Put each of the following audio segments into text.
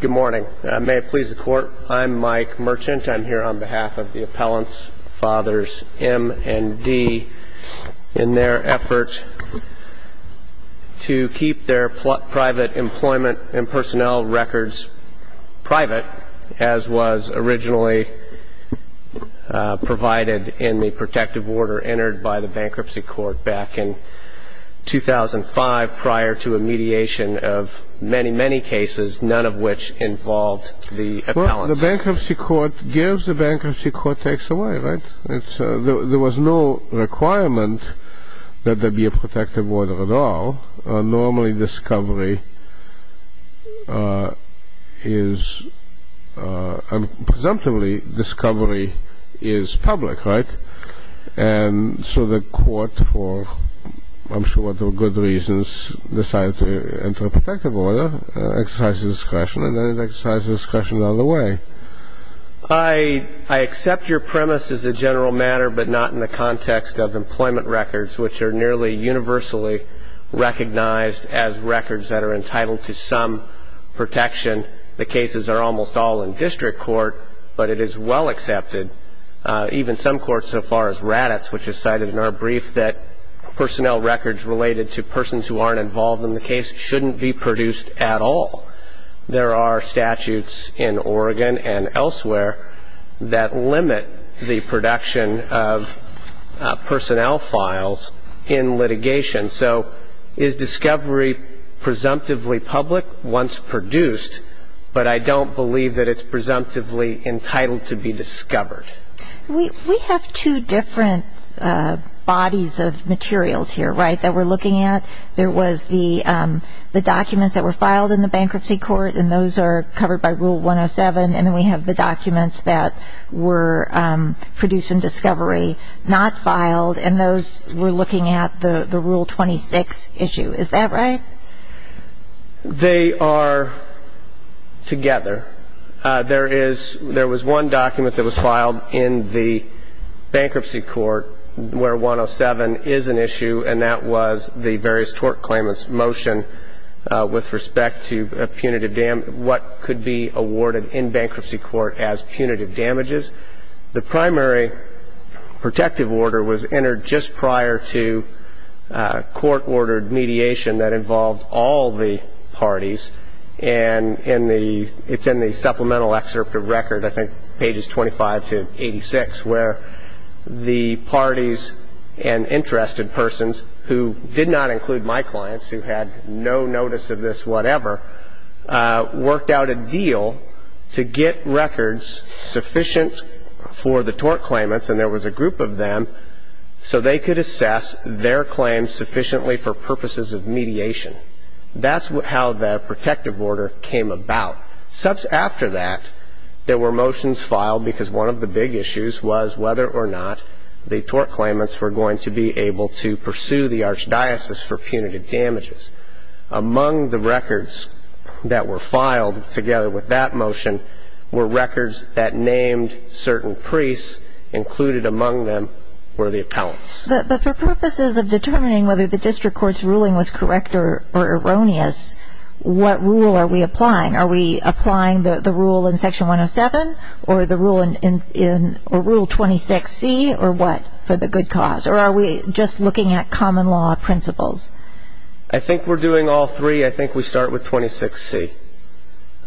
Good morning. May it please the Court, I'm Mike Merchant. I'm here on behalf of the Appellants' Fathers M and D in their effort to keep their private employment and personnel records private, as was originally provided in the protective order entered by the Bankruptcy Court back in 2005 prior to a mediation of many, many cases. None of which involved the appellants. I accept your premise as a general matter, but not in the context of employment records, which are nearly universally recognized as records that are entitled to some protection. The cases are almost all in district court, but it is well accepted, even some courts so far as Raddatz, which is cited in our brief, that personnel records related to persons who aren't involved in the case shouldn't be produced at all. There are statutes in Oregon and elsewhere that limit the production of personnel files in litigation. So is discovery presumptively public? Once produced, but I don't believe that it's presumptively entitled to be discovered. We have two different bodies of materials here, right, that we're looking at. There was the documents that were filed in the Bankruptcy Court, and those are covered by Rule 107. And then we have the documents that were produced in discovery, not filed, and those we're looking at the Rule 26 issue. Is that right? They are together. There is one document that was filed in the Bankruptcy Court where 107 is an issue, and that was the various tort claimants' motion with respect to punitive damage, what could be awarded in Bankruptcy Court as punitive damages. The primary protective order was entered just prior to court-ordered mediation that involved all the parties. And in the – it's in the supplemental excerpt of record, I think pages 25 to 86, where the parties and interested persons who did not include my clients, who had no notice of this whatever, worked out a deal to get records sufficient for the tort claimants, and there was a group of them, so they could assess their claims sufficiently for purposes of mediation. That's how the protective order came about. After that, there were motions filed because one of the big issues was whether or not the tort claimants were going to be able to pursue the Archdiocese for punitive damages. Among the records that were filed together with that motion were records that named certain priests. Included among them were the appellants. But for purposes of determining whether the district court's ruling was correct or erroneous, what rule are we applying? Are we applying the rule in Section 107, or the rule in – or Rule 26C, or what, for the good cause? Or are we just looking at common law principles? I think we're doing all three. I think we start with 26C.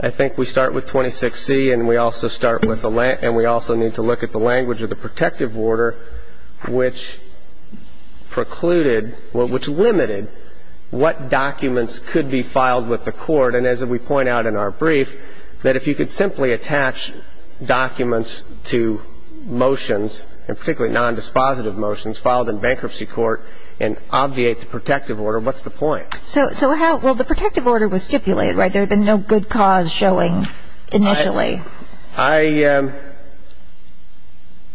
I think we start with 26C, and we also start with the – and we also need to look at the language of the protective order, which precluded – well, which limited what documents could be filed with the court. And as we point out in our brief, that if you could simply attach documents to motions, and particularly nondispositive motions filed in bankruptcy court, and obviate the protective order, what's the point? So how – well, the protective order was stipulated, right? There had been no good cause showing initially. I –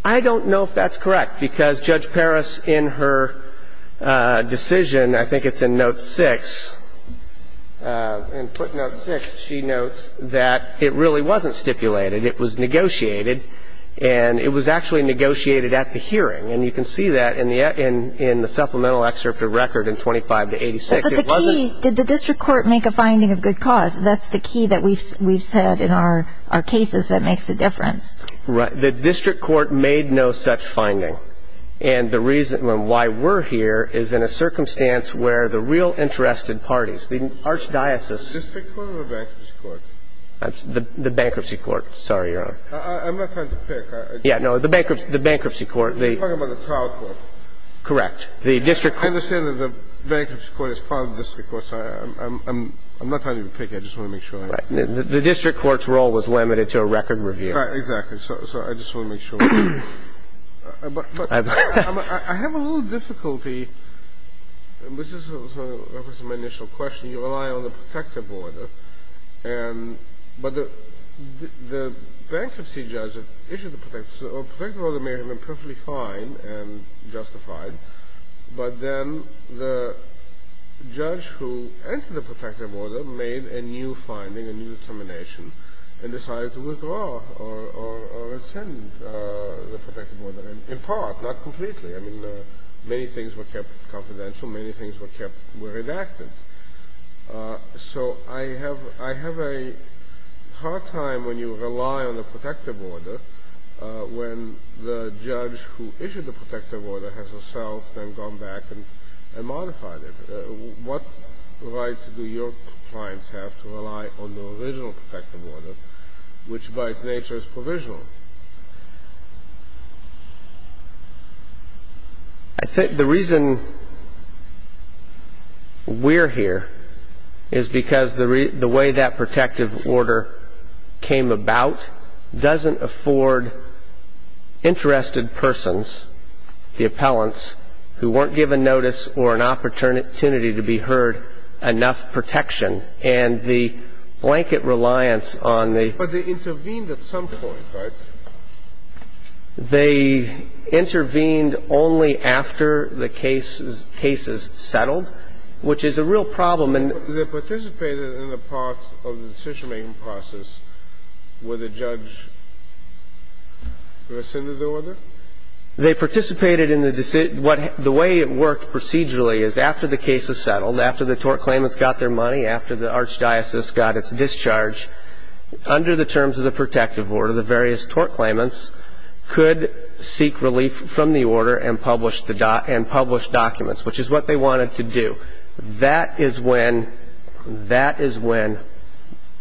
I don't know if that's correct, because Judge Parris, in her decision – I think it's in Note 6. In footnote 6, she notes that it really wasn't stipulated. It was negotiated, and it was actually negotiated at the hearing. And you can see that in the supplemental excerpt of record in 25 to 86. It wasn't – But the key – did the district court make a finding of good cause? That's the key that we've said in our cases that makes a difference. Right. The district court made no such finding. And the reason why we're here is in a circumstance where the real interested parties, the archdiocese – The district court or the bankruptcy court? The bankruptcy court. Sorry, Your Honor. I'm not trying to pick. Yeah, no. The bankruptcy court. You're talking about the trial court. Correct. The district court. I understand that the bankruptcy court is part of the district court, so I'm not trying to pick. I just want to make sure. Right. The district court's role was limited to a record review. Right. Exactly. So I just want to make sure. But I have a little difficulty. This is a reference to my initial question. You rely on the protective order, and – but the bankruptcy judge issued the protective order may have been perfectly fine and justified, but then the judge who entered the protective order made a new finding, a new determination, and decided to withdraw or rescind the protective order, in part, not completely. I mean, many things were kept confidential. Many things were kept – were redacted. So I have a hard time when you rely on the protective order when the judge who issued the protective order has herself then gone back and modified it. What right do your clients have to rely on the original protective order, which by its nature is provisional? I think the reason we're here is because the way that protective order came about doesn't afford interested persons, the appellants, who weren't given notice or an opportunity to be heard enough protection. And the blanket reliance on the – But they intervened at some point, right? They intervened only after the case is – case is settled, which is a real problem, and – They participated in the part of the decision-making process where the judge rescinded the order? They participated in the – the way it worked procedurally is after the case is settled, after the tort claimants got their money, after the archdiocese got its discharge, under the terms of the protective order, the various tort claimants could seek relief from the order and publish the – and publish documents, which is what they wanted to do. That is when – that is when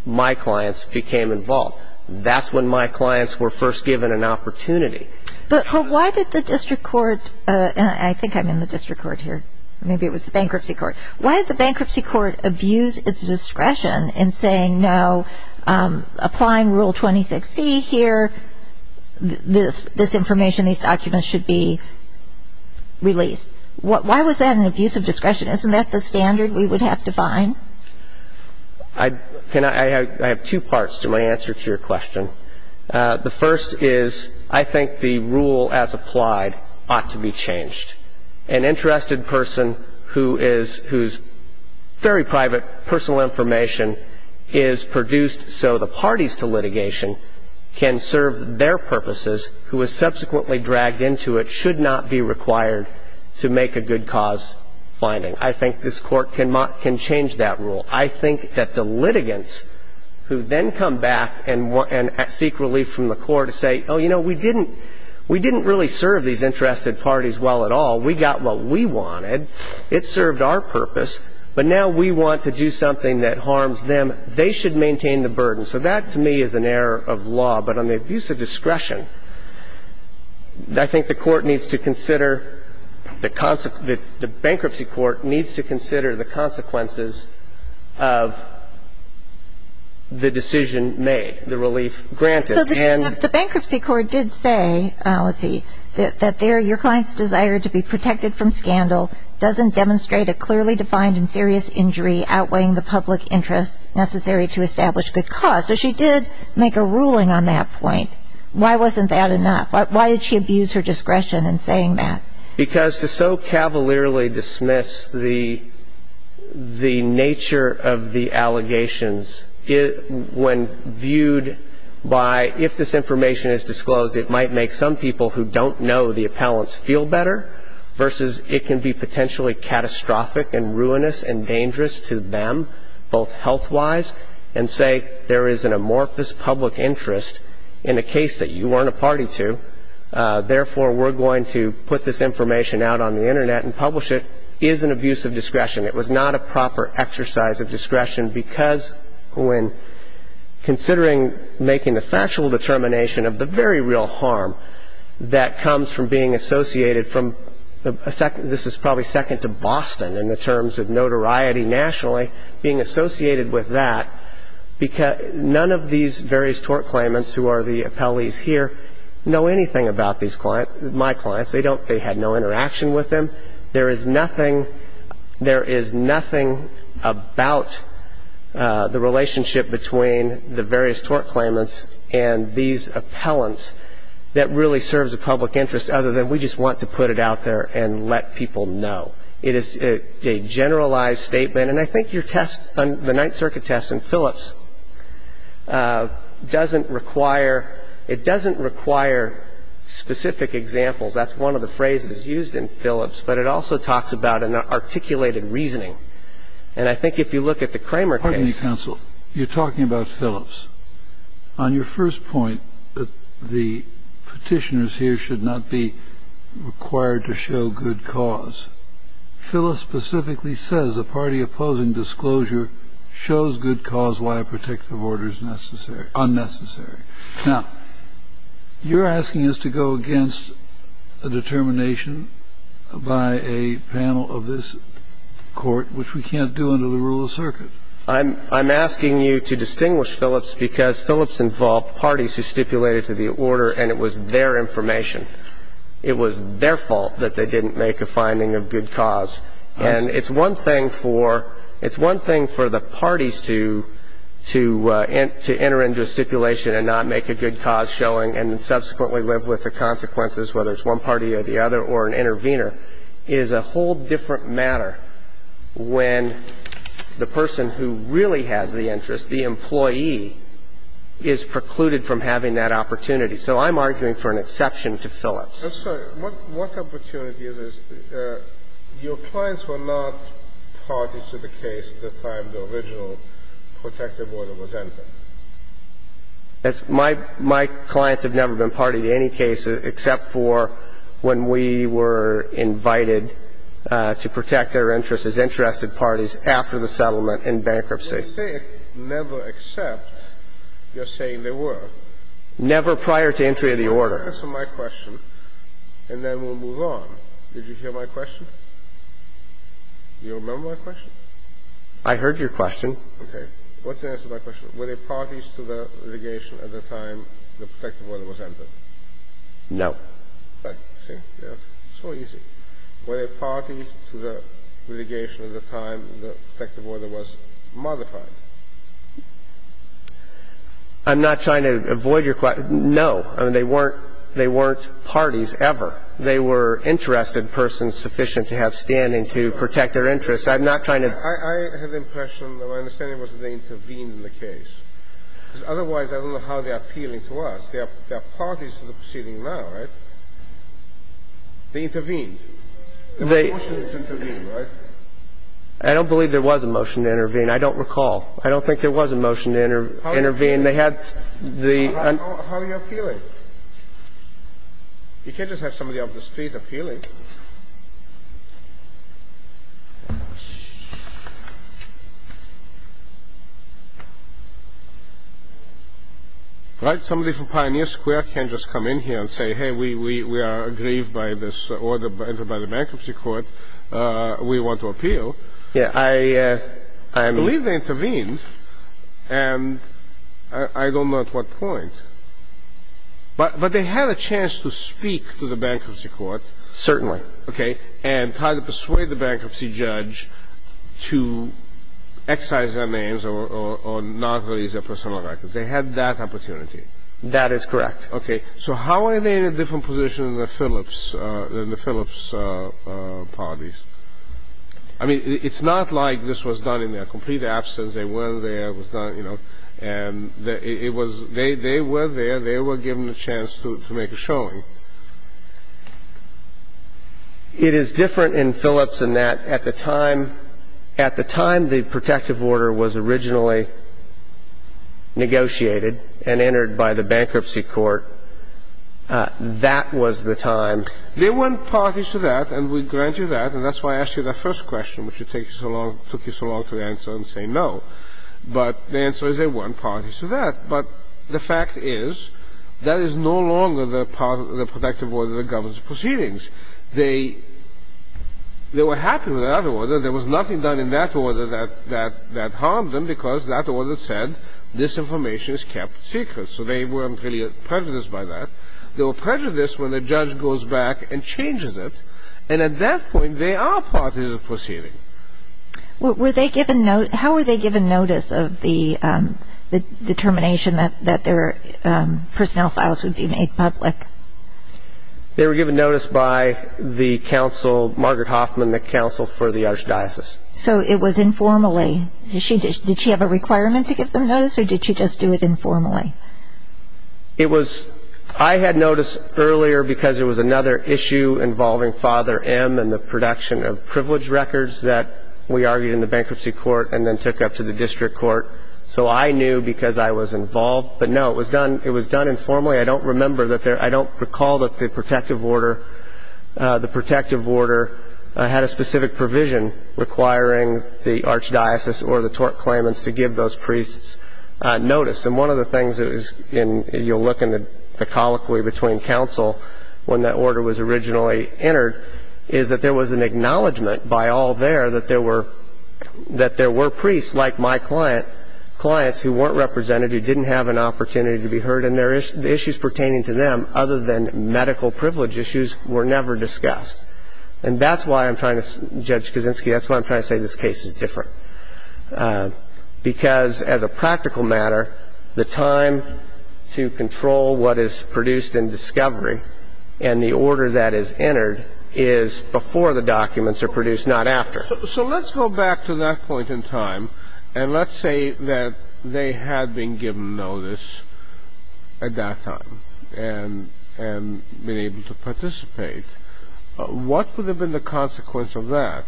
my clients became involved. That's when my clients were first given an opportunity. But why did the district court – and I think I'm in the district court here. Maybe it was the bankruptcy court. Why did the bankruptcy court abuse its discretion in saying, no, applying Rule 26C here, this information, these documents should be released? Why was that an abuse of discretion? Isn't that the standard we would have to find? I – can I – I have two parts to my answer to your question. The first is I think the rule as applied ought to be changed. An interested person who is – whose very private personal information is produced so the parties to litigation can serve their purposes, who is subsequently dragged into it should not be required to make a good cause finding. I think this court can change that rule. I think that the litigants who then come back and seek relief from the court and say, oh, you know, we didn't – we didn't really serve these interested parties well at all. We got what we wanted. It served our purpose. But now we want to do something that harms them. They should maintain the burden. So that to me is an error of law. But on the abuse of discretion, I think the court needs to consider the – the bankruptcy court needs to consider the consequences of the decision made, the relief granted. So the bankruptcy court did say, let's see, that your client's desire to be protected from scandal doesn't demonstrate a clearly defined and serious injury outweighing the public interest necessary to establish good cause. So she did make a ruling on that point. Why wasn't that enough? Why did she abuse her discretion in saying that? Because to so cavalierly dismiss the nature of the allegations when viewed by if this information is disclosed it might make some people who don't know the appellants feel better versus it can be potentially catastrophic and ruinous and dangerous to them both health-wise and say there is an amorphous public interest in a case that you weren't a party to. Therefore, we're going to put this information out on the Internet and publish it is an abuse of discretion. It was not a proper exercise of discretion because when considering making the factual determination of the very real harm that comes from being associated from – this is probably second to Boston in the terms of notoriety nationally – being associated with that, none of these various tort claimants who are the appellees here know anything about my clients. They had no interaction with them. There is nothing about the relationship between the various tort claimants and these appellants that really serves a public interest other than we just want to put it out there and let people know. It is a generalized statement. And I think your test on the Ninth Circuit test in Phillips doesn't require – it doesn't require specific examples. That's one of the phrases used in Phillips. But it also talks about an articulated reasoning. And I think if you look at the Kramer case – Kennedy, counsel, you're talking about Phillips. On your first point, the Petitioners here should not be required to show good cause. Phillips specifically says a party opposing disclosure shows good cause why a protective order is unnecessary. Now, you're asking us to go against a determination by a panel of this Court, which we can't do under the rule of circuit. I'm asking you to distinguish Phillips because Phillips involved parties who stipulated to the order and it was their information. It was their fault that they didn't make a finding of good cause. And it's one thing for – it's one thing for the parties to enter into a stipulation and not make a good cause showing and subsequently live with the consequences, whether it's one party or the other or an intervener, is a whole different matter when the person who really has the interest, the employee, is precluded from having that opportunity. So I'm arguing for an exception to Phillips. I'm sorry. What opportunity is this? Your clients were not parties to the case at the time the original protective order was entered. That's – my clients have never been party to any case except for when we were invited to protect their interests as interested parties after the settlement in bankruptcy. You say never except. You're saying they were. Never prior to entry of the order. Answer my question and then we'll move on. Did you hear my question? Do you remember my question? I heard your question. Okay. What's the answer to my question? Were they parties to the litigation at the time the protective order was entered? No. So easy. Were they parties to the litigation at the time the protective order was modified? I'm not trying to avoid your question. No. I mean, they weren't – they weren't parties ever. They were interested persons sufficient to have standing to protect their interests. I'm not trying to – I have the impression that my understanding was that they intervened in the case. Because otherwise I don't know how they are appealing to us. They are parties to the proceeding now, right? They intervened. The motion is to intervene, right? I don't believe there was a motion to intervene. I don't recall. I don't think there was a motion to intervene. They had the – How are you appealing? You can't just have somebody off the street appealing. Right? Somebody from Pioneer Square can't just come in here and say, hey, we are aggrieved by this order by the bankruptcy court. We want to appeal. I believe they intervened. And I don't know at what point. But they had a chance to speak to the bankruptcy court. Certainly. Okay. And try to persuade the bankruptcy judge to excise their names or not release their personal records. They had that opportunity. That is correct. Okay. So how are they in a different position than the Phillips – than the Phillips parties? I mean, it's not like this was done in their complete absence. They were there. It was done, you know. And it was – they were there. They were given a chance to make a showing. It is different in Phillips in that at the time – at the time the protective order was originally negotiated and entered by the bankruptcy court, that was the time. They weren't parties to that, and we grant you that. And that's why I asked you that first question, which took you so long to answer and say no. But the answer is they weren't parties to that. But the fact is that is no longer the part of the protective order that governs proceedings. They were happy with that order. There was nothing done in that order that harmed them because that order said this information is kept secret. So they weren't really prejudiced by that. They were prejudiced when the judge goes back and changes it. And at that point, they are parties to the proceeding. Were they given – how were they given notice of the determination that their personnel files would be made public? They were given notice by the counsel, Margaret Hoffman, the counsel for the Archdiocese. So it was informally. Did she have a requirement to give them notice, or did she just do it informally? It was – I had notice earlier because there was another issue involving Father M and the production of privilege records that we argued in the bankruptcy court and then took up to the district court. So I knew because I was involved. But, no, it was done informally. I don't remember that there – I don't recall that the protective order – the protective order had a specific provision requiring the Archdiocese or the tort claimants to give those priests notice. And one of the things that is in – you'll look in the colloquy between counsel when that order was originally entered, is that there was an acknowledgement by all there that there were – that there were priests like my client, clients who weren't represented, who didn't have an opportunity to be heard, and the issues pertaining to them, other than medical privilege issues, were never discussed. And that's why I'm trying to – Judge Kaczynski, that's why I'm trying to say this case is different. Because as a practical matter, the time to control what is produced in discovery and the order that is entered is before the documents are produced, not after. So let's go back to that point in time, and let's say that they had been given notice at that time and been able to participate. What would have been the consequence of that?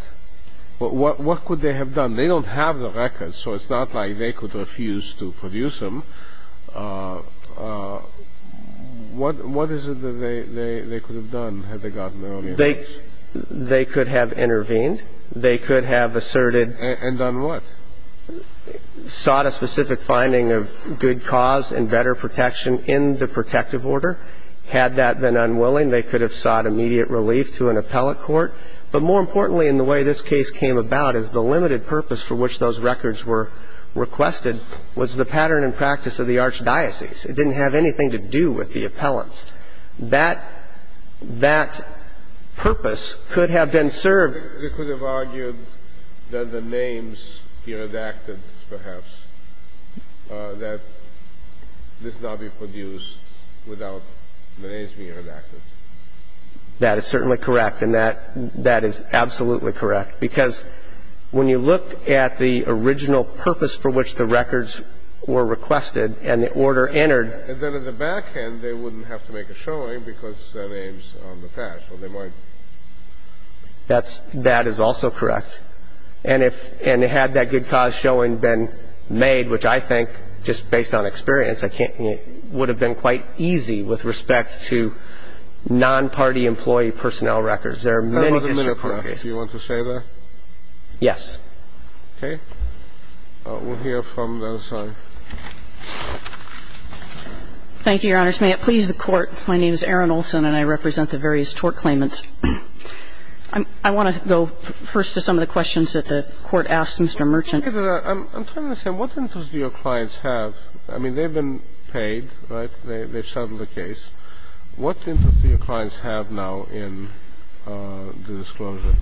What could they have done? They don't have the records, so it's not like they could refuse to produce them. What is it that they could have done had they gotten the notice? They could have intervened. They could have asserted – And done what? Sought a specific finding of good cause and better protection in the protective order. Had that been unwilling, they could have sought immediate relief to an appellate court. But more importantly in the way this case came about is the limited purpose for which those records were requested was the pattern and practice of the archdiocese. It didn't have anything to do with the appellants. That purpose could have been served. They could have argued that the names be redacted, perhaps, that this not be produced without the names being redacted. That is certainly correct. And that is absolutely correct. Because when you look at the original purpose for which the records were requested and the order entered – And then in the back end, they wouldn't have to make a showing because their names are on the patch. Well, they might – That's – that is also correct. And if – and had that good cause showing been made, which I think, just based on experience, I can't – would have been quite easy with respect to non-party employee personnel records. There are many district court cases. Do you want to say that? Yes. Okay. We'll hear from the other side. Thank you, Your Honors. May it please the Court, my name is Erin Olson and I represent the various tort claimants. I want to go first to some of the questions that the Court asked Mr. Merchant. I'm trying to understand, what interest do your clients have? I mean, they've been paid, right? They've settled the case. What interest do your clients have now in the disclosure?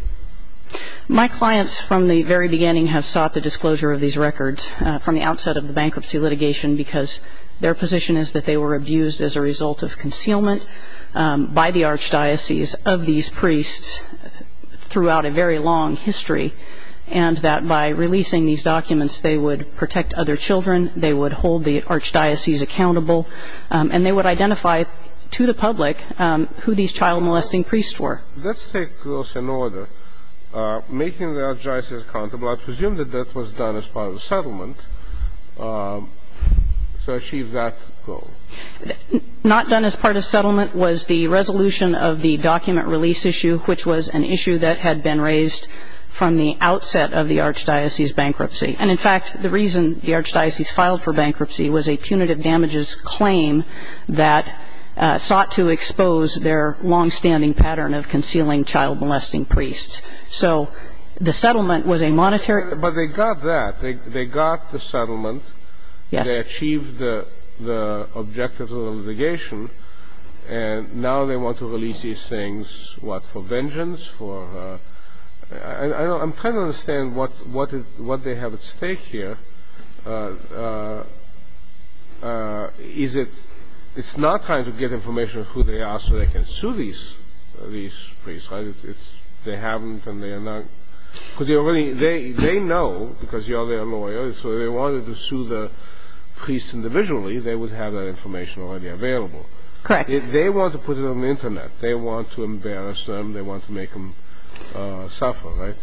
My clients from the very beginning have sought the disclosure of these records from the outset of the bankruptcy litigation because their position is that they were abused as a result of concealment by the archdiocese of these priests throughout a very long history. And that by releasing these documents, they would protect other children, they would hold the archdiocese accountable, and they would identify to the public who these child-molesting priests were. Let's take those in order. Making the archdiocese accountable, I presume that that was done as part of the settlement. So achieve that goal. Not done as part of settlement was the resolution of the document release issue, which was an issue that had been raised from the outset of the archdiocese bankruptcy. And, in fact, the reason the archdiocese filed for bankruptcy was a punitive damages claim that sought to expose their longstanding pattern of concealing child-molesting priests. So the settlement was a monetary ---- But they got that. They got the settlement. Yes. They achieved the objectives of the litigation. And now they want to release these things, what, for vengeance? I'm trying to understand what they have at stake here. It's not trying to get information of who they are so they can sue these priests, right? They haven't, and they are not. Because they know, because you are their lawyer, so if they wanted to sue the priests individually, they would have that information already available. Correct. They want to put it on the Internet. They want to embarrass them. They want to make them suffer, right?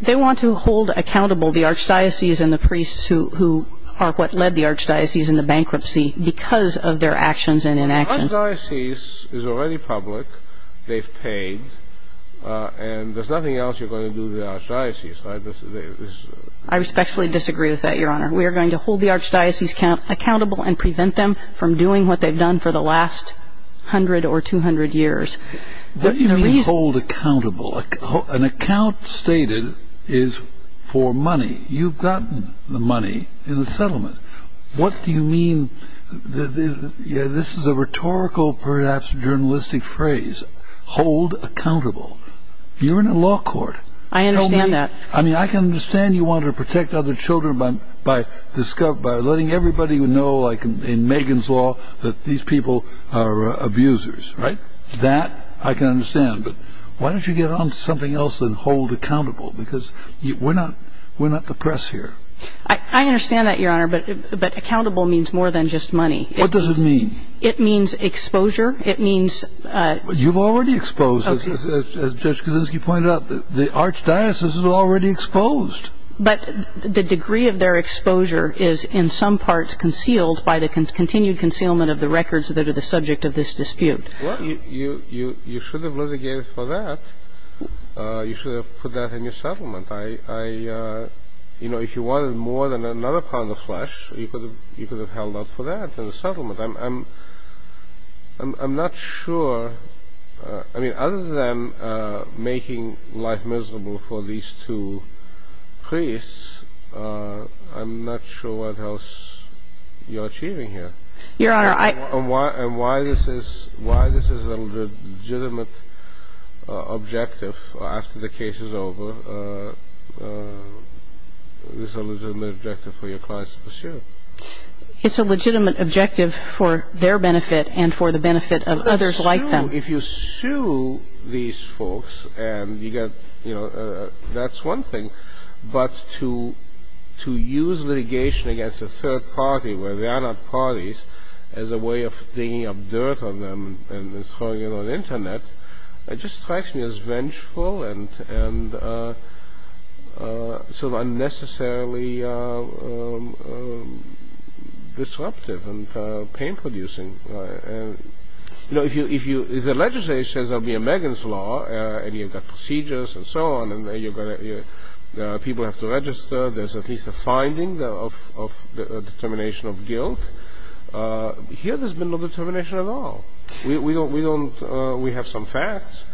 They want to hold accountable the archdiocese and the priests who are what led the archdiocese into bankruptcy because of their actions and inactions. The archdiocese is already public. They've paid. And there's nothing else you're going to do to the archdiocese, right? I respectfully disagree with that, Your Honor. We are going to hold the archdiocese accountable and prevent them from doing what they've done for the last 100 or 200 years. What do you mean hold accountable? An account stated is for money. You've gotten the money in the settlement. What do you mean? This is a rhetorical, perhaps journalistic phrase, hold accountable. You're in a law court. I understand that. I mean, I can understand you want to protect other children by letting everybody know, like in Megan's law, that these people are abusers, right? That I can understand. But why don't you get on to something else than hold accountable? Because we're not the press here. I understand that, Your Honor. But accountable means more than just money. What does it mean? It means exposure. It means... You've already exposed, as Judge Kaczynski pointed out, the archdiocese is already exposed. But the degree of their exposure is, in some parts, concealed by the continued concealment of the records that are the subject of this dispute. Well, you should have litigated for that. You should have put that in your settlement. You know, if you wanted more than another pound of flesh, you could have held out for that in the settlement. I'm not sure. I mean, other than making life miserable for these two priests, I'm not sure what else you're achieving here. Your Honor, I... And why this is a legitimate objective after the case is over, this is a legitimate objective for your clients to pursue. It's a legitimate objective for their benefit and for the benefit of others like them. If you sue these folks and you get, you know, that's one thing, but to use litigation against a third party where they are not parties as a way of digging up dirt on them and throwing it on the Internet, it just strikes me as vengeful and sort of unnecessarily disruptive and pain-producing. You know, if the legislature says there will be a Megan's Law and you've got procedures and so on and people have to register, there's at least a finding of determination of guilt, here there's been no determination at all. We don't, we have some facts,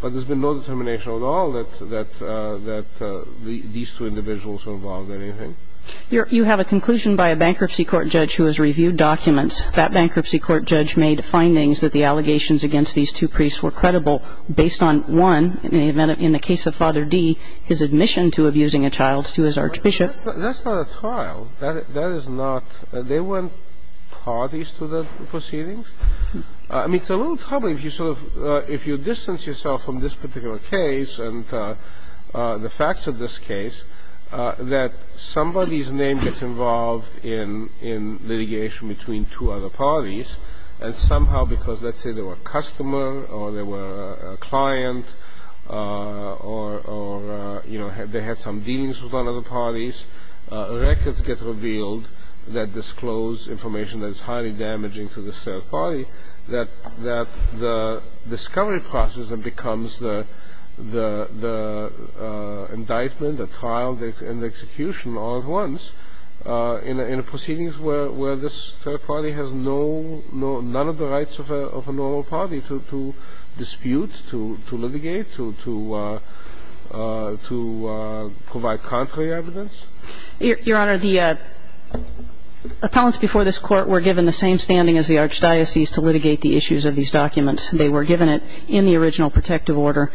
but there's been no determination at all that these two individuals were involved in anything. You have a conclusion by a bankruptcy court judge who has reviewed documents. That bankruptcy court judge made findings that the allegations against these two priests were credible based on, one, in the case of Father Dee, his admission to abusing a child to his archbishop. That's not a child. That is not, they weren't parties to the proceedings. I mean, it's a little troubling if you sort of, if you distance yourself from this particular case and the facts of this case, that somebody's name gets involved in litigation between two other parties and somehow because let's say they were a customer or they were a client or they had some dealings with other parties, records get revealed that disclose information that is highly damaging to the third party, that the discovery process becomes the indictment, the trial, and the execution all at once in a proceedings where this third party has none of the rights of a normal party to dispute, to litigate, to provide contrary evidence. Your Honor, the appellants before this Court were given the same standing as the archdiocese to litigate the issues of these documents. They were given it in the original protective order,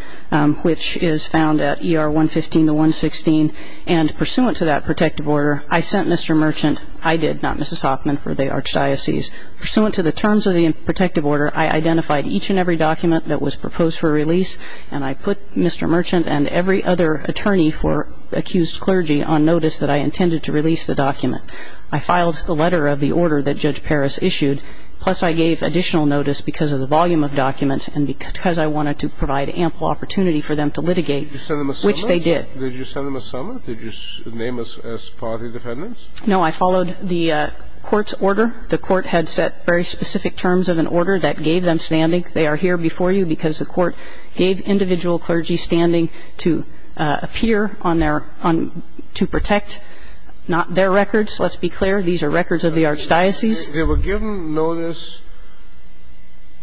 which is found at ER 115 to 116. And pursuant to that protective order, I sent Mr. Merchant, I did, not Mrs. Hoffman, for the archdiocese. Pursuant to the terms of the protective order, I identified each and every document that was proposed for release, and I put Mr. Merchant and every other attorney for accused clergy on notice that I intended to release the document. I filed the letter of the order that Judge Parris issued, plus I gave additional notice because of the volume of documents and because I wanted to provide ample opportunity for them to litigate, which they did. Did you send them a summons? Did you name us as party defendants? No, I followed the Court's order. The Court had set very specific terms of an order that gave them standing. They are here before you because the Court gave individual clergy standing to appear on their – to protect not their records, let's be clear. These are records of the archdiocese. They were given notice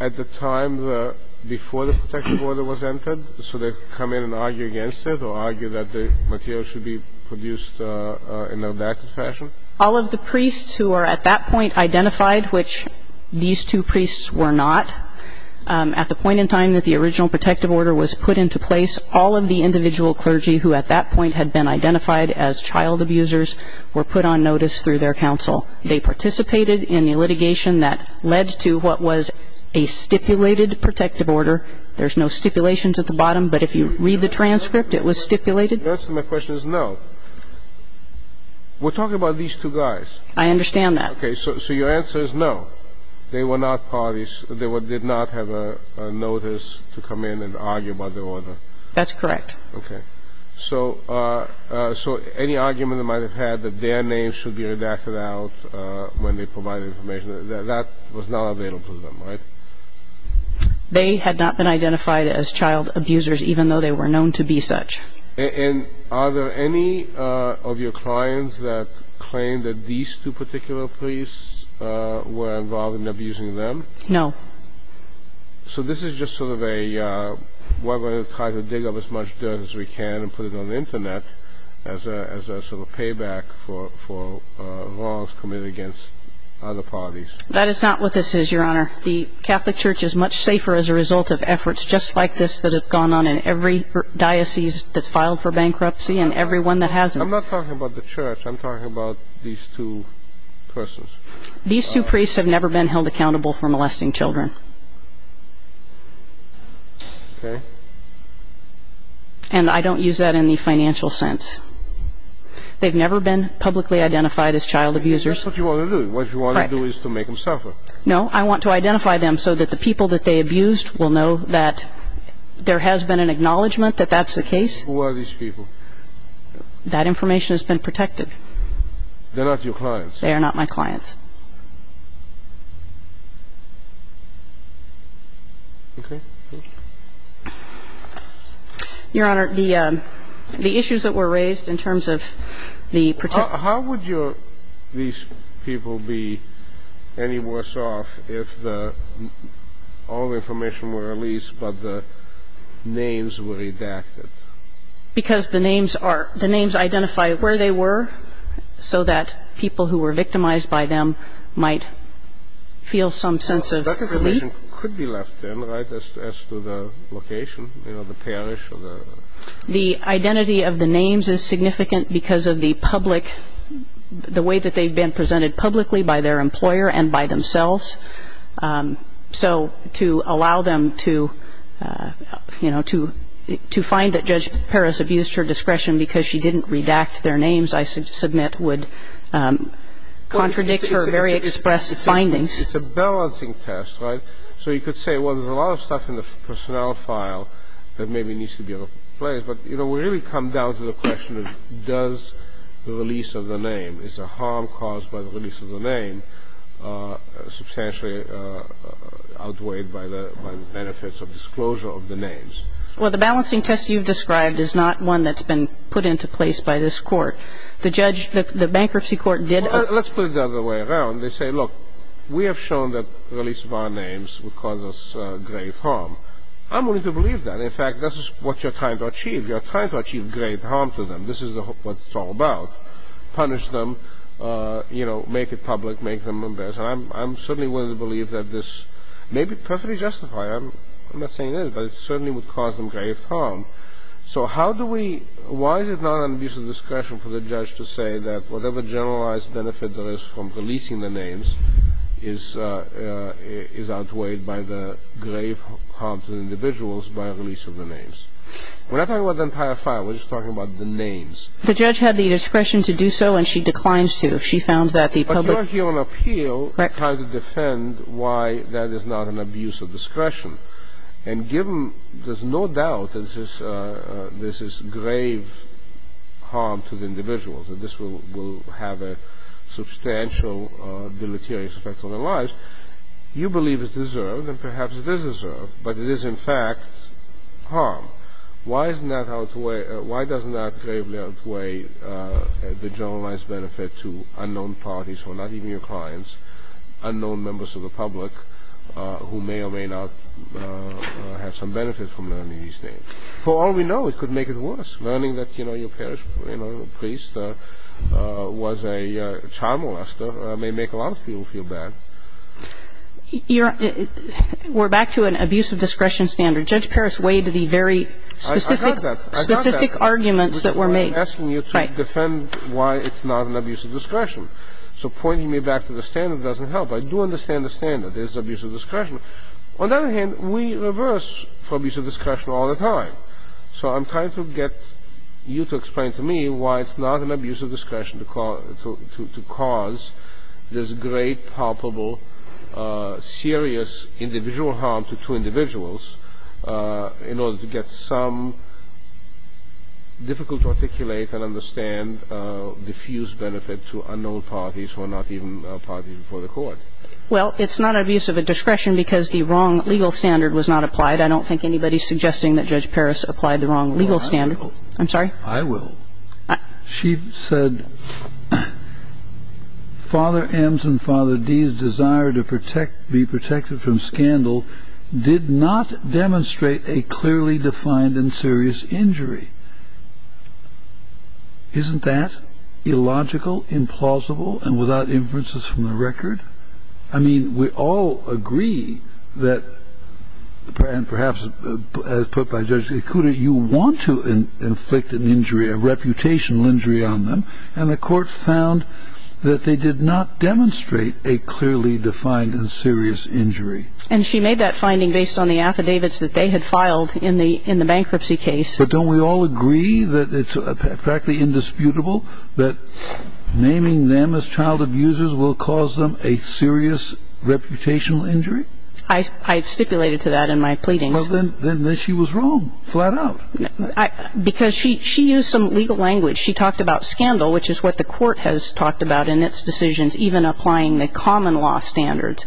at the time before the protective order was entered, so they could come in and argue against it or argue that the material should be produced in an adapted fashion? All of the priests who are at that point identified, which these two priests were not, at the point in time that the original protective order was put into place, all of the individual clergy who at that point had been identified as child abusers were put on notice through their counsel. They participated in the litigation that led to what was a stipulated protective order. There's no stipulations at the bottom, but if you read the transcript, it was stipulated. The answer to my question is no. We're talking about these two guys. I understand that. Okay. So your answer is no. They were not parties. They did not have a notice to come in and argue about the order. That's correct. Okay. So any argument they might have had that their names should be redacted out when they provide information, that was not available to them, right? They had not been identified as child abusers, even though they were known to be such. And are there any of your clients that claim that these two particular priests were involved in abusing them? No. So this is just sort of a, we're going to try to dig up as much dirt as we can and put it on the Internet as a sort of payback for wrongs committed against other parties. That is not what this is, Your Honor. The Catholic Church is much safer as a result of efforts just like this that have gone on in every diocese that's filed for bankruptcy and every one that hasn't. I'm not talking about the church. I'm talking about these two persons. These two priests have never been held accountable for molesting children. Okay. And I don't use that in the financial sense. They've never been publicly identified as child abusers. That's what you want to do. What you want to do is to make them suffer. No. I want to identify them so that the people that they abused will know that there has been an acknowledgment that that's the case. Who are these people? That information has been protected. They're not your clients. They are not my clients. Okay. Your Honor, the issues that were raised in terms of the protection. How would these people be any worse off if all the information were released but the names were redacted? Because the names identify where they were so that people who were victimized by them might feel some sense of relief. That information could be left in, right, as to the location, you know, the parish or the... The identity of the names is significant because of the public, the way that they've been presented publicly by their employer and by themselves. So to allow them to, you know, to find that Judge Paris abused her discretion because she didn't redact their names, I submit would contradict her very express findings. It's a balancing test, right? So you could say, well, there's a lot of stuff in the personnel file that maybe needs to be replaced. But, you know, we really come down to the question of does the release of the name, is the harm caused by the release of the name substantially outweighed by the benefits of disclosure of the names? Well, the balancing test you've described is not one that's been put into place by this court. The bankruptcy court did... Let's put it the other way around. They say, look, we have shown that release of our names would cause us grave harm. I'm willing to believe that. In fact, that's what you're trying to achieve. You're trying to achieve grave harm to them. This is what it's all about, punish them, you know, make it public, make them embarrassed. And I'm certainly willing to believe that this may be perfectly justified. I'm not saying it is, but it certainly would cause them grave harm. So how do we – why is it not an abuse of discretion for the judge to say that whatever generalized benefit there is from releasing the names is outweighed by the grave harm to the individuals by release of the names? We're not talking about the entire file. We're just talking about the names. The judge had the discretion to do so, and she declined to. She found that the public... But you're here on appeal trying to defend why that is not an abuse of discretion. And given – there's no doubt that this is grave harm to the individuals, and this will have a substantial, deleterious effect on their lives. You believe it's deserved, and perhaps it is deserved, but it is, in fact, harm. Why isn't that outweighed? Why does not gravely outweigh the generalized benefit to unknown parties who are not even your clients, unknown members of the public who may or may not have some benefits from learning these names? For all we know, it could make it worse. Learning that, you know, your parish priest was a child molester may make a lot of people feel bad. You're – we're back to an abuse of discretion standard. Judge Parris weighed the very specific... I got that. ...specific arguments that were made. I'm asking you to defend why it's not an abuse of discretion. So pointing me back to the standard doesn't help. I do understand the standard is abuse of discretion. On the other hand, we reverse for abuse of discretion all the time. So I'm trying to get you to explain to me why it's not an abuse of discretion to cause this great, palpable, serious individual harm to two individuals in order to get some difficult-to-articulate and understand diffused benefit to unknown parties who are not even parties before the court. Well, it's not abuse of a discretion because the wrong legal standard was not applied. I don't think anybody's suggesting that Judge Parris applied the wrong legal standard. I will. I'm sorry? I will. She said, Father M's and Father D's desire to be protected from scandal did not demonstrate a clearly defined and serious injury. Isn't that illogical, implausible, and without inferences from the record? I mean, we all agree that, and perhaps as put by Judge Ikuda, you want to inflict an injury, a reputational injury on them, and the court found that they did not demonstrate a clearly defined and serious injury. And she made that finding based on the affidavits that they had filed in the bankruptcy case. But don't we all agree that it's practically indisputable that naming them as child abusers will cause them a serious reputational injury? I stipulated to that in my pleadings. Well, then she was wrong, flat out. Because she used some legal language. She talked about scandal, which is what the court has talked about in its decisions, even applying the common law standards.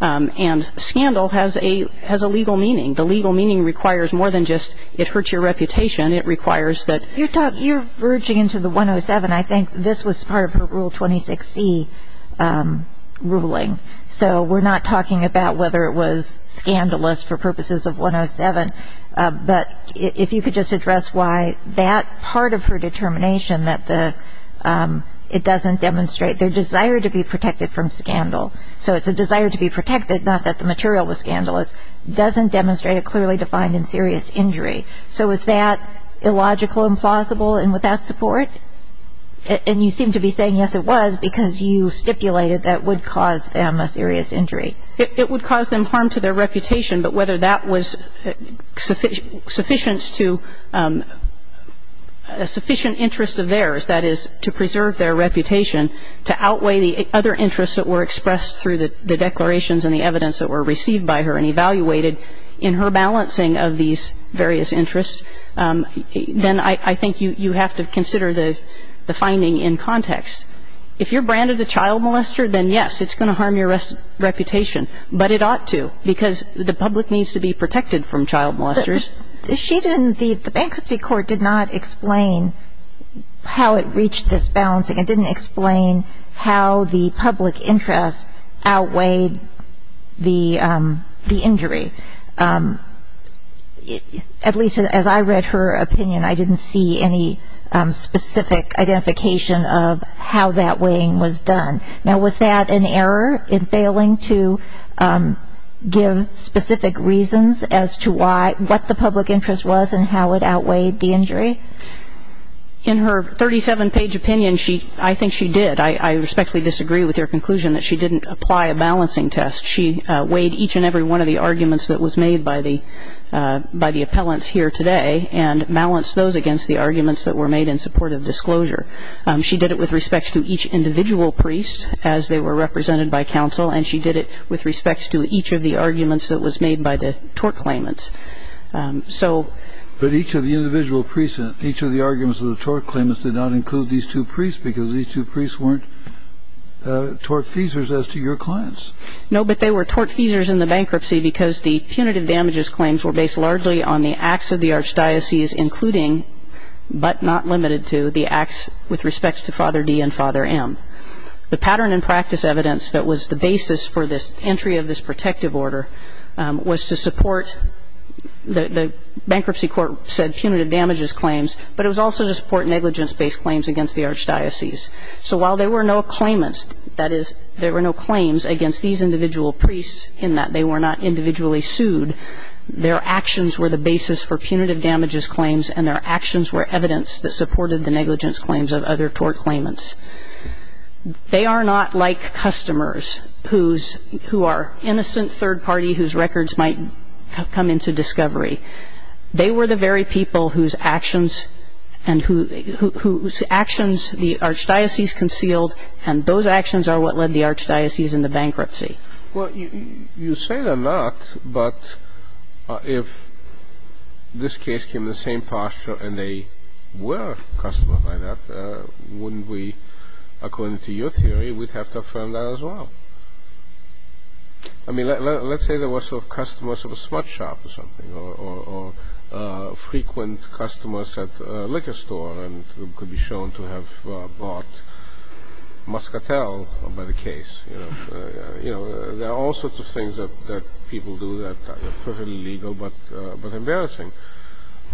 And scandal has a legal meaning. The legal meaning requires more than just it hurts your reputation. It requires that you're talking. You're verging into the 107. I think this was part of her Rule 26C ruling. So we're not talking about whether it was scandalous for purposes of 107. But if you could just address why that part of her determination, that it doesn't demonstrate their desire to be protected from scandal. So it's a desire to be protected, not that the material was scandalous, doesn't demonstrate a clearly defined and serious injury. So is that illogical, implausible, and without support? And you seem to be saying, yes, it was, because you stipulated that would cause them a serious injury. It would cause them harm to their reputation. But whether that was sufficient to a sufficient interest of theirs, that is to preserve their reputation, to outweigh the other interests that were expressed through the declarations and the evidence that were received by her and evaluated in her balancing of these various interests, then I think you have to consider the finding in context. If you're branded a child molester, then yes, it's going to harm your reputation. But it ought to, because the public needs to be protected from child molesters. But the sheet in the bankruptcy court did not explain how it reached this balancing. It didn't explain how the public interest outweighed the injury. At least as I read her opinion, I didn't see any specific identification of how that weighing was done. Now, was that an error in failing to give specific reasons as to what the public interest was and how it outweighed the injury? In her 37-page opinion, I think she did. I respectfully disagree with your conclusion that she didn't apply a balancing test. She weighed each and every one of the arguments that was made by the appellants here today and balanced those against the arguments that were made in support of disclosure. She did it with respect to each individual priest as they were represented by counsel, and she did it with respect to each of the arguments that was made by the tort claimants. But each of the individual priests, each of the arguments of the tort claimants did not include these two priests because these two priests weren't tort feasers as to your clients. No, but they were tort feasers in the bankruptcy because the punitive damages claims were based largely on the acts of the archdiocese, including but not limited to the acts with respect to Father D and Father M. The pattern and practice evidence that was the basis for this entry of this protective order was to support the bankruptcy court said punitive damages claims, but it was also to support negligence-based claims against the archdiocese. So while there were no claimants, that is, there were no claims against these individual priests in that they were not individually sued, their actions were the basis for punitive damages claims and their actions were evidence that supported the negligence claims of other tort claimants. They are not like customers who are innocent third party whose records might come into discovery. They were the very people whose actions the archdiocese concealed and those actions are what led the archdiocese into bankruptcy. Well, you say they're not, but if this case came in the same posture and they were a customer like that, wouldn't we, according to your theory, we'd have to affirm that as well. I mean, let's say there was a customer at a smudge shop or something or frequent customers at a liquor store and could be shown to have bought muscatel by the case. You know, there are all sorts of things that people do that are perfectly legal but embarrassing.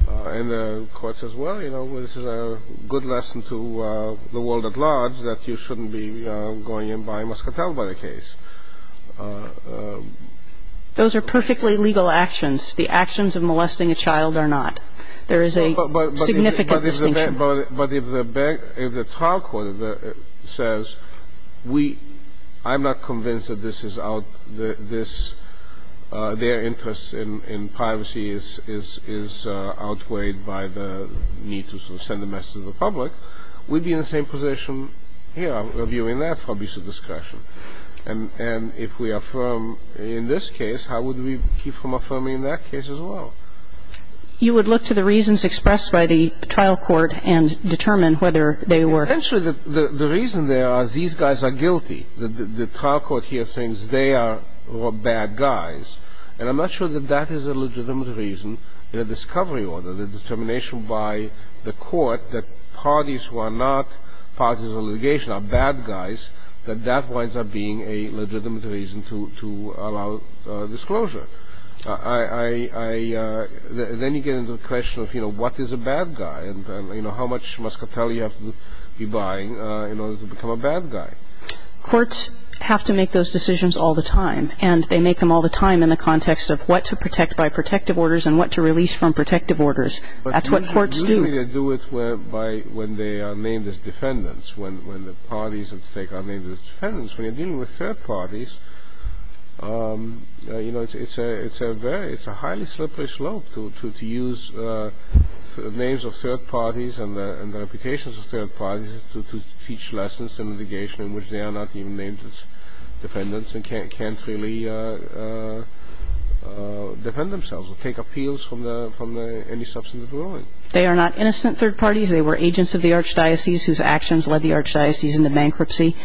And the court says, well, you know, this is a good lesson to the world at large that you shouldn't be going and buying muscatel by the case. Those are perfectly legal actions. The actions of molesting a child are not. There is a significant distinction. But if the trial court says, I'm not convinced that this is out, their interest in privacy is outweighed by the need to send a message to the public, we'd be in the same position here reviewing that for abuse of discretion. And if we affirm in this case, how would we keep from affirming in that case as well? You would look to the reasons expressed by the trial court and determine whether they were... Essentially, the reason there is these guys are guilty. The trial court here thinks they are bad guys. And I'm not sure that that is a legitimate reason in a discovery order, the determination by the court that parties who are not parties of litigation are bad guys, that that winds up being a legitimate reason to allow disclosure. Then you get into the question of what is a bad guy and how much muscatel you have to be buying in order to become a bad guy. Courts have to make those decisions all the time. And they make them all the time in the context of what to protect by protective orders and what to release from protective orders. That's what courts do. Usually they do it when they are named as defendants, when the parties at stake are named as defendants. When you're dealing with third parties, you know, it's a very – it's a highly slippery slope to use names of third parties and the reputations of third parties to teach lessons in litigation in which they are not even named as defendants and can't really defend themselves or take appeals from any substantive ruling. They are not innocent third parties. They were agents of the archdiocese whose actions led the archdiocese into bankruptcy.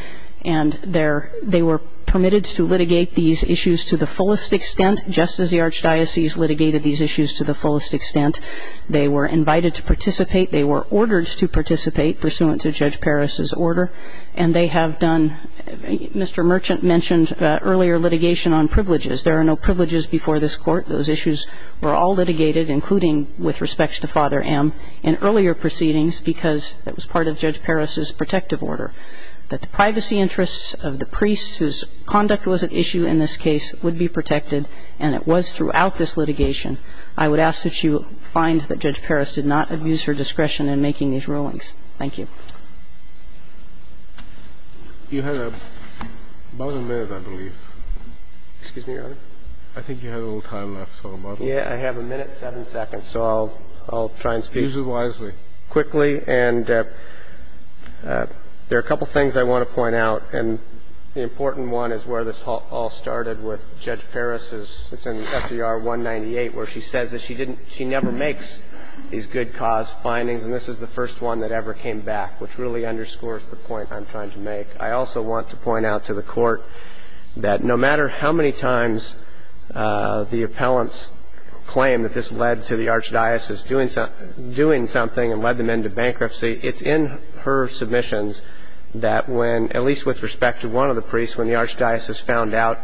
And they were permitted to litigate these issues to the fullest extent, just as the archdiocese litigated these issues to the fullest extent. They were invited to participate. They were ordered to participate pursuant to Judge Parris's order. And they have done – Mr. Merchant mentioned earlier litigation on privileges. There are no privileges before this Court. Those issues were all litigated, including with respect to Father M., in earlier proceedings because it was part of Judge Parris's protective order. That the privacy interests of the priests whose conduct was at issue in this case would be protected, and it was throughout this litigation. I would ask that you find that Judge Parris did not abuse her discretion in making these rulings. Thank you. You had about a minute, I believe. Excuse me, Your Honor. I think you had a little time left, so about a minute. Yeah, I have a minute, seven seconds, so I'll try and speak quickly. Use it wisely. And there are a couple of things I want to point out, and the important one is where this all started with Judge Parris's – it's in S.E.R. 198 where she says that she I'm trying to make. I also want to point out to the Court that no matter how many times the appellants claim that this led to the archdiocese doing something and led them into bankruptcy, it's in her submissions that when – at least with respect to one of the priests, when the archdiocese found out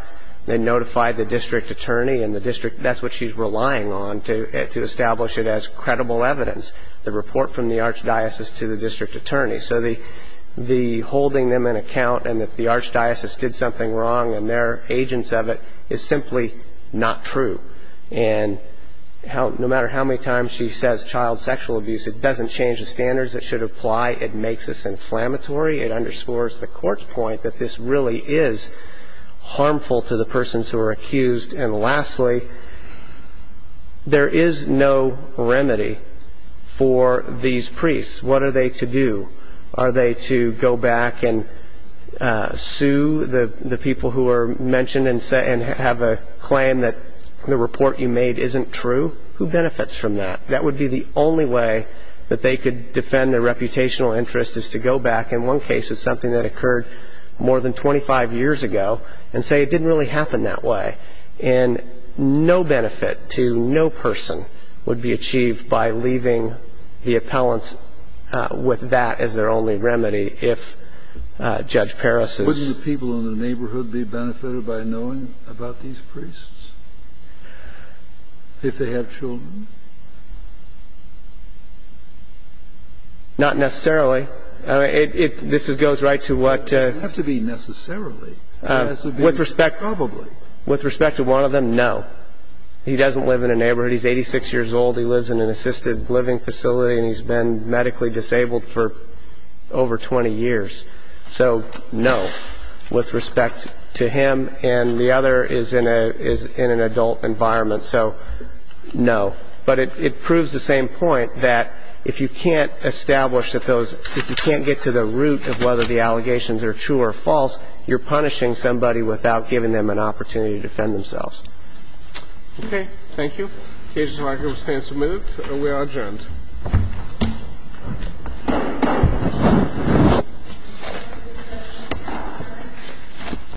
they notified the district attorney and the district – that's what she's relying on to establish it as credible evidence, the report from the archdiocese to the district attorney. So the holding them in account and that the archdiocese did something wrong and they're agents of it is simply not true. And no matter how many times she says child sexual abuse, it doesn't change the standards that should apply. It makes us inflammatory. It underscores the Court's point that this really is harmful to the persons who are accused. And lastly, there is no remedy for these priests. What are they to do? Are they to go back and sue the people who are mentioned and have a claim that the report you made isn't true? Who benefits from that? That would be the only way that they could defend their reputational interest is to go back in one case of something that occurred more than 25 years ago and say it didn't really happen that way. And no benefit to no person would be achieved by leaving the appellants with that as their only remedy if Judge Parris is – Wouldn't the people in the neighborhood be benefited by knowing about these priests? If they have children? Not necessarily. This goes right to what – It doesn't have to be necessarily. It has to be probably. With respect to one of them, no. He doesn't live in a neighborhood. He's 86 years old. He lives in an assisted living facility and he's been medically disabled for over 20 years. So no with respect to him. And the other is in an adult environment. So no. But it proves the same point that if you can't establish that those – are true or false, you're punishing somebody without giving them an opportunity to defend themselves. Okay. Thank you. Cases and arguments stand submitted. We are adjourned.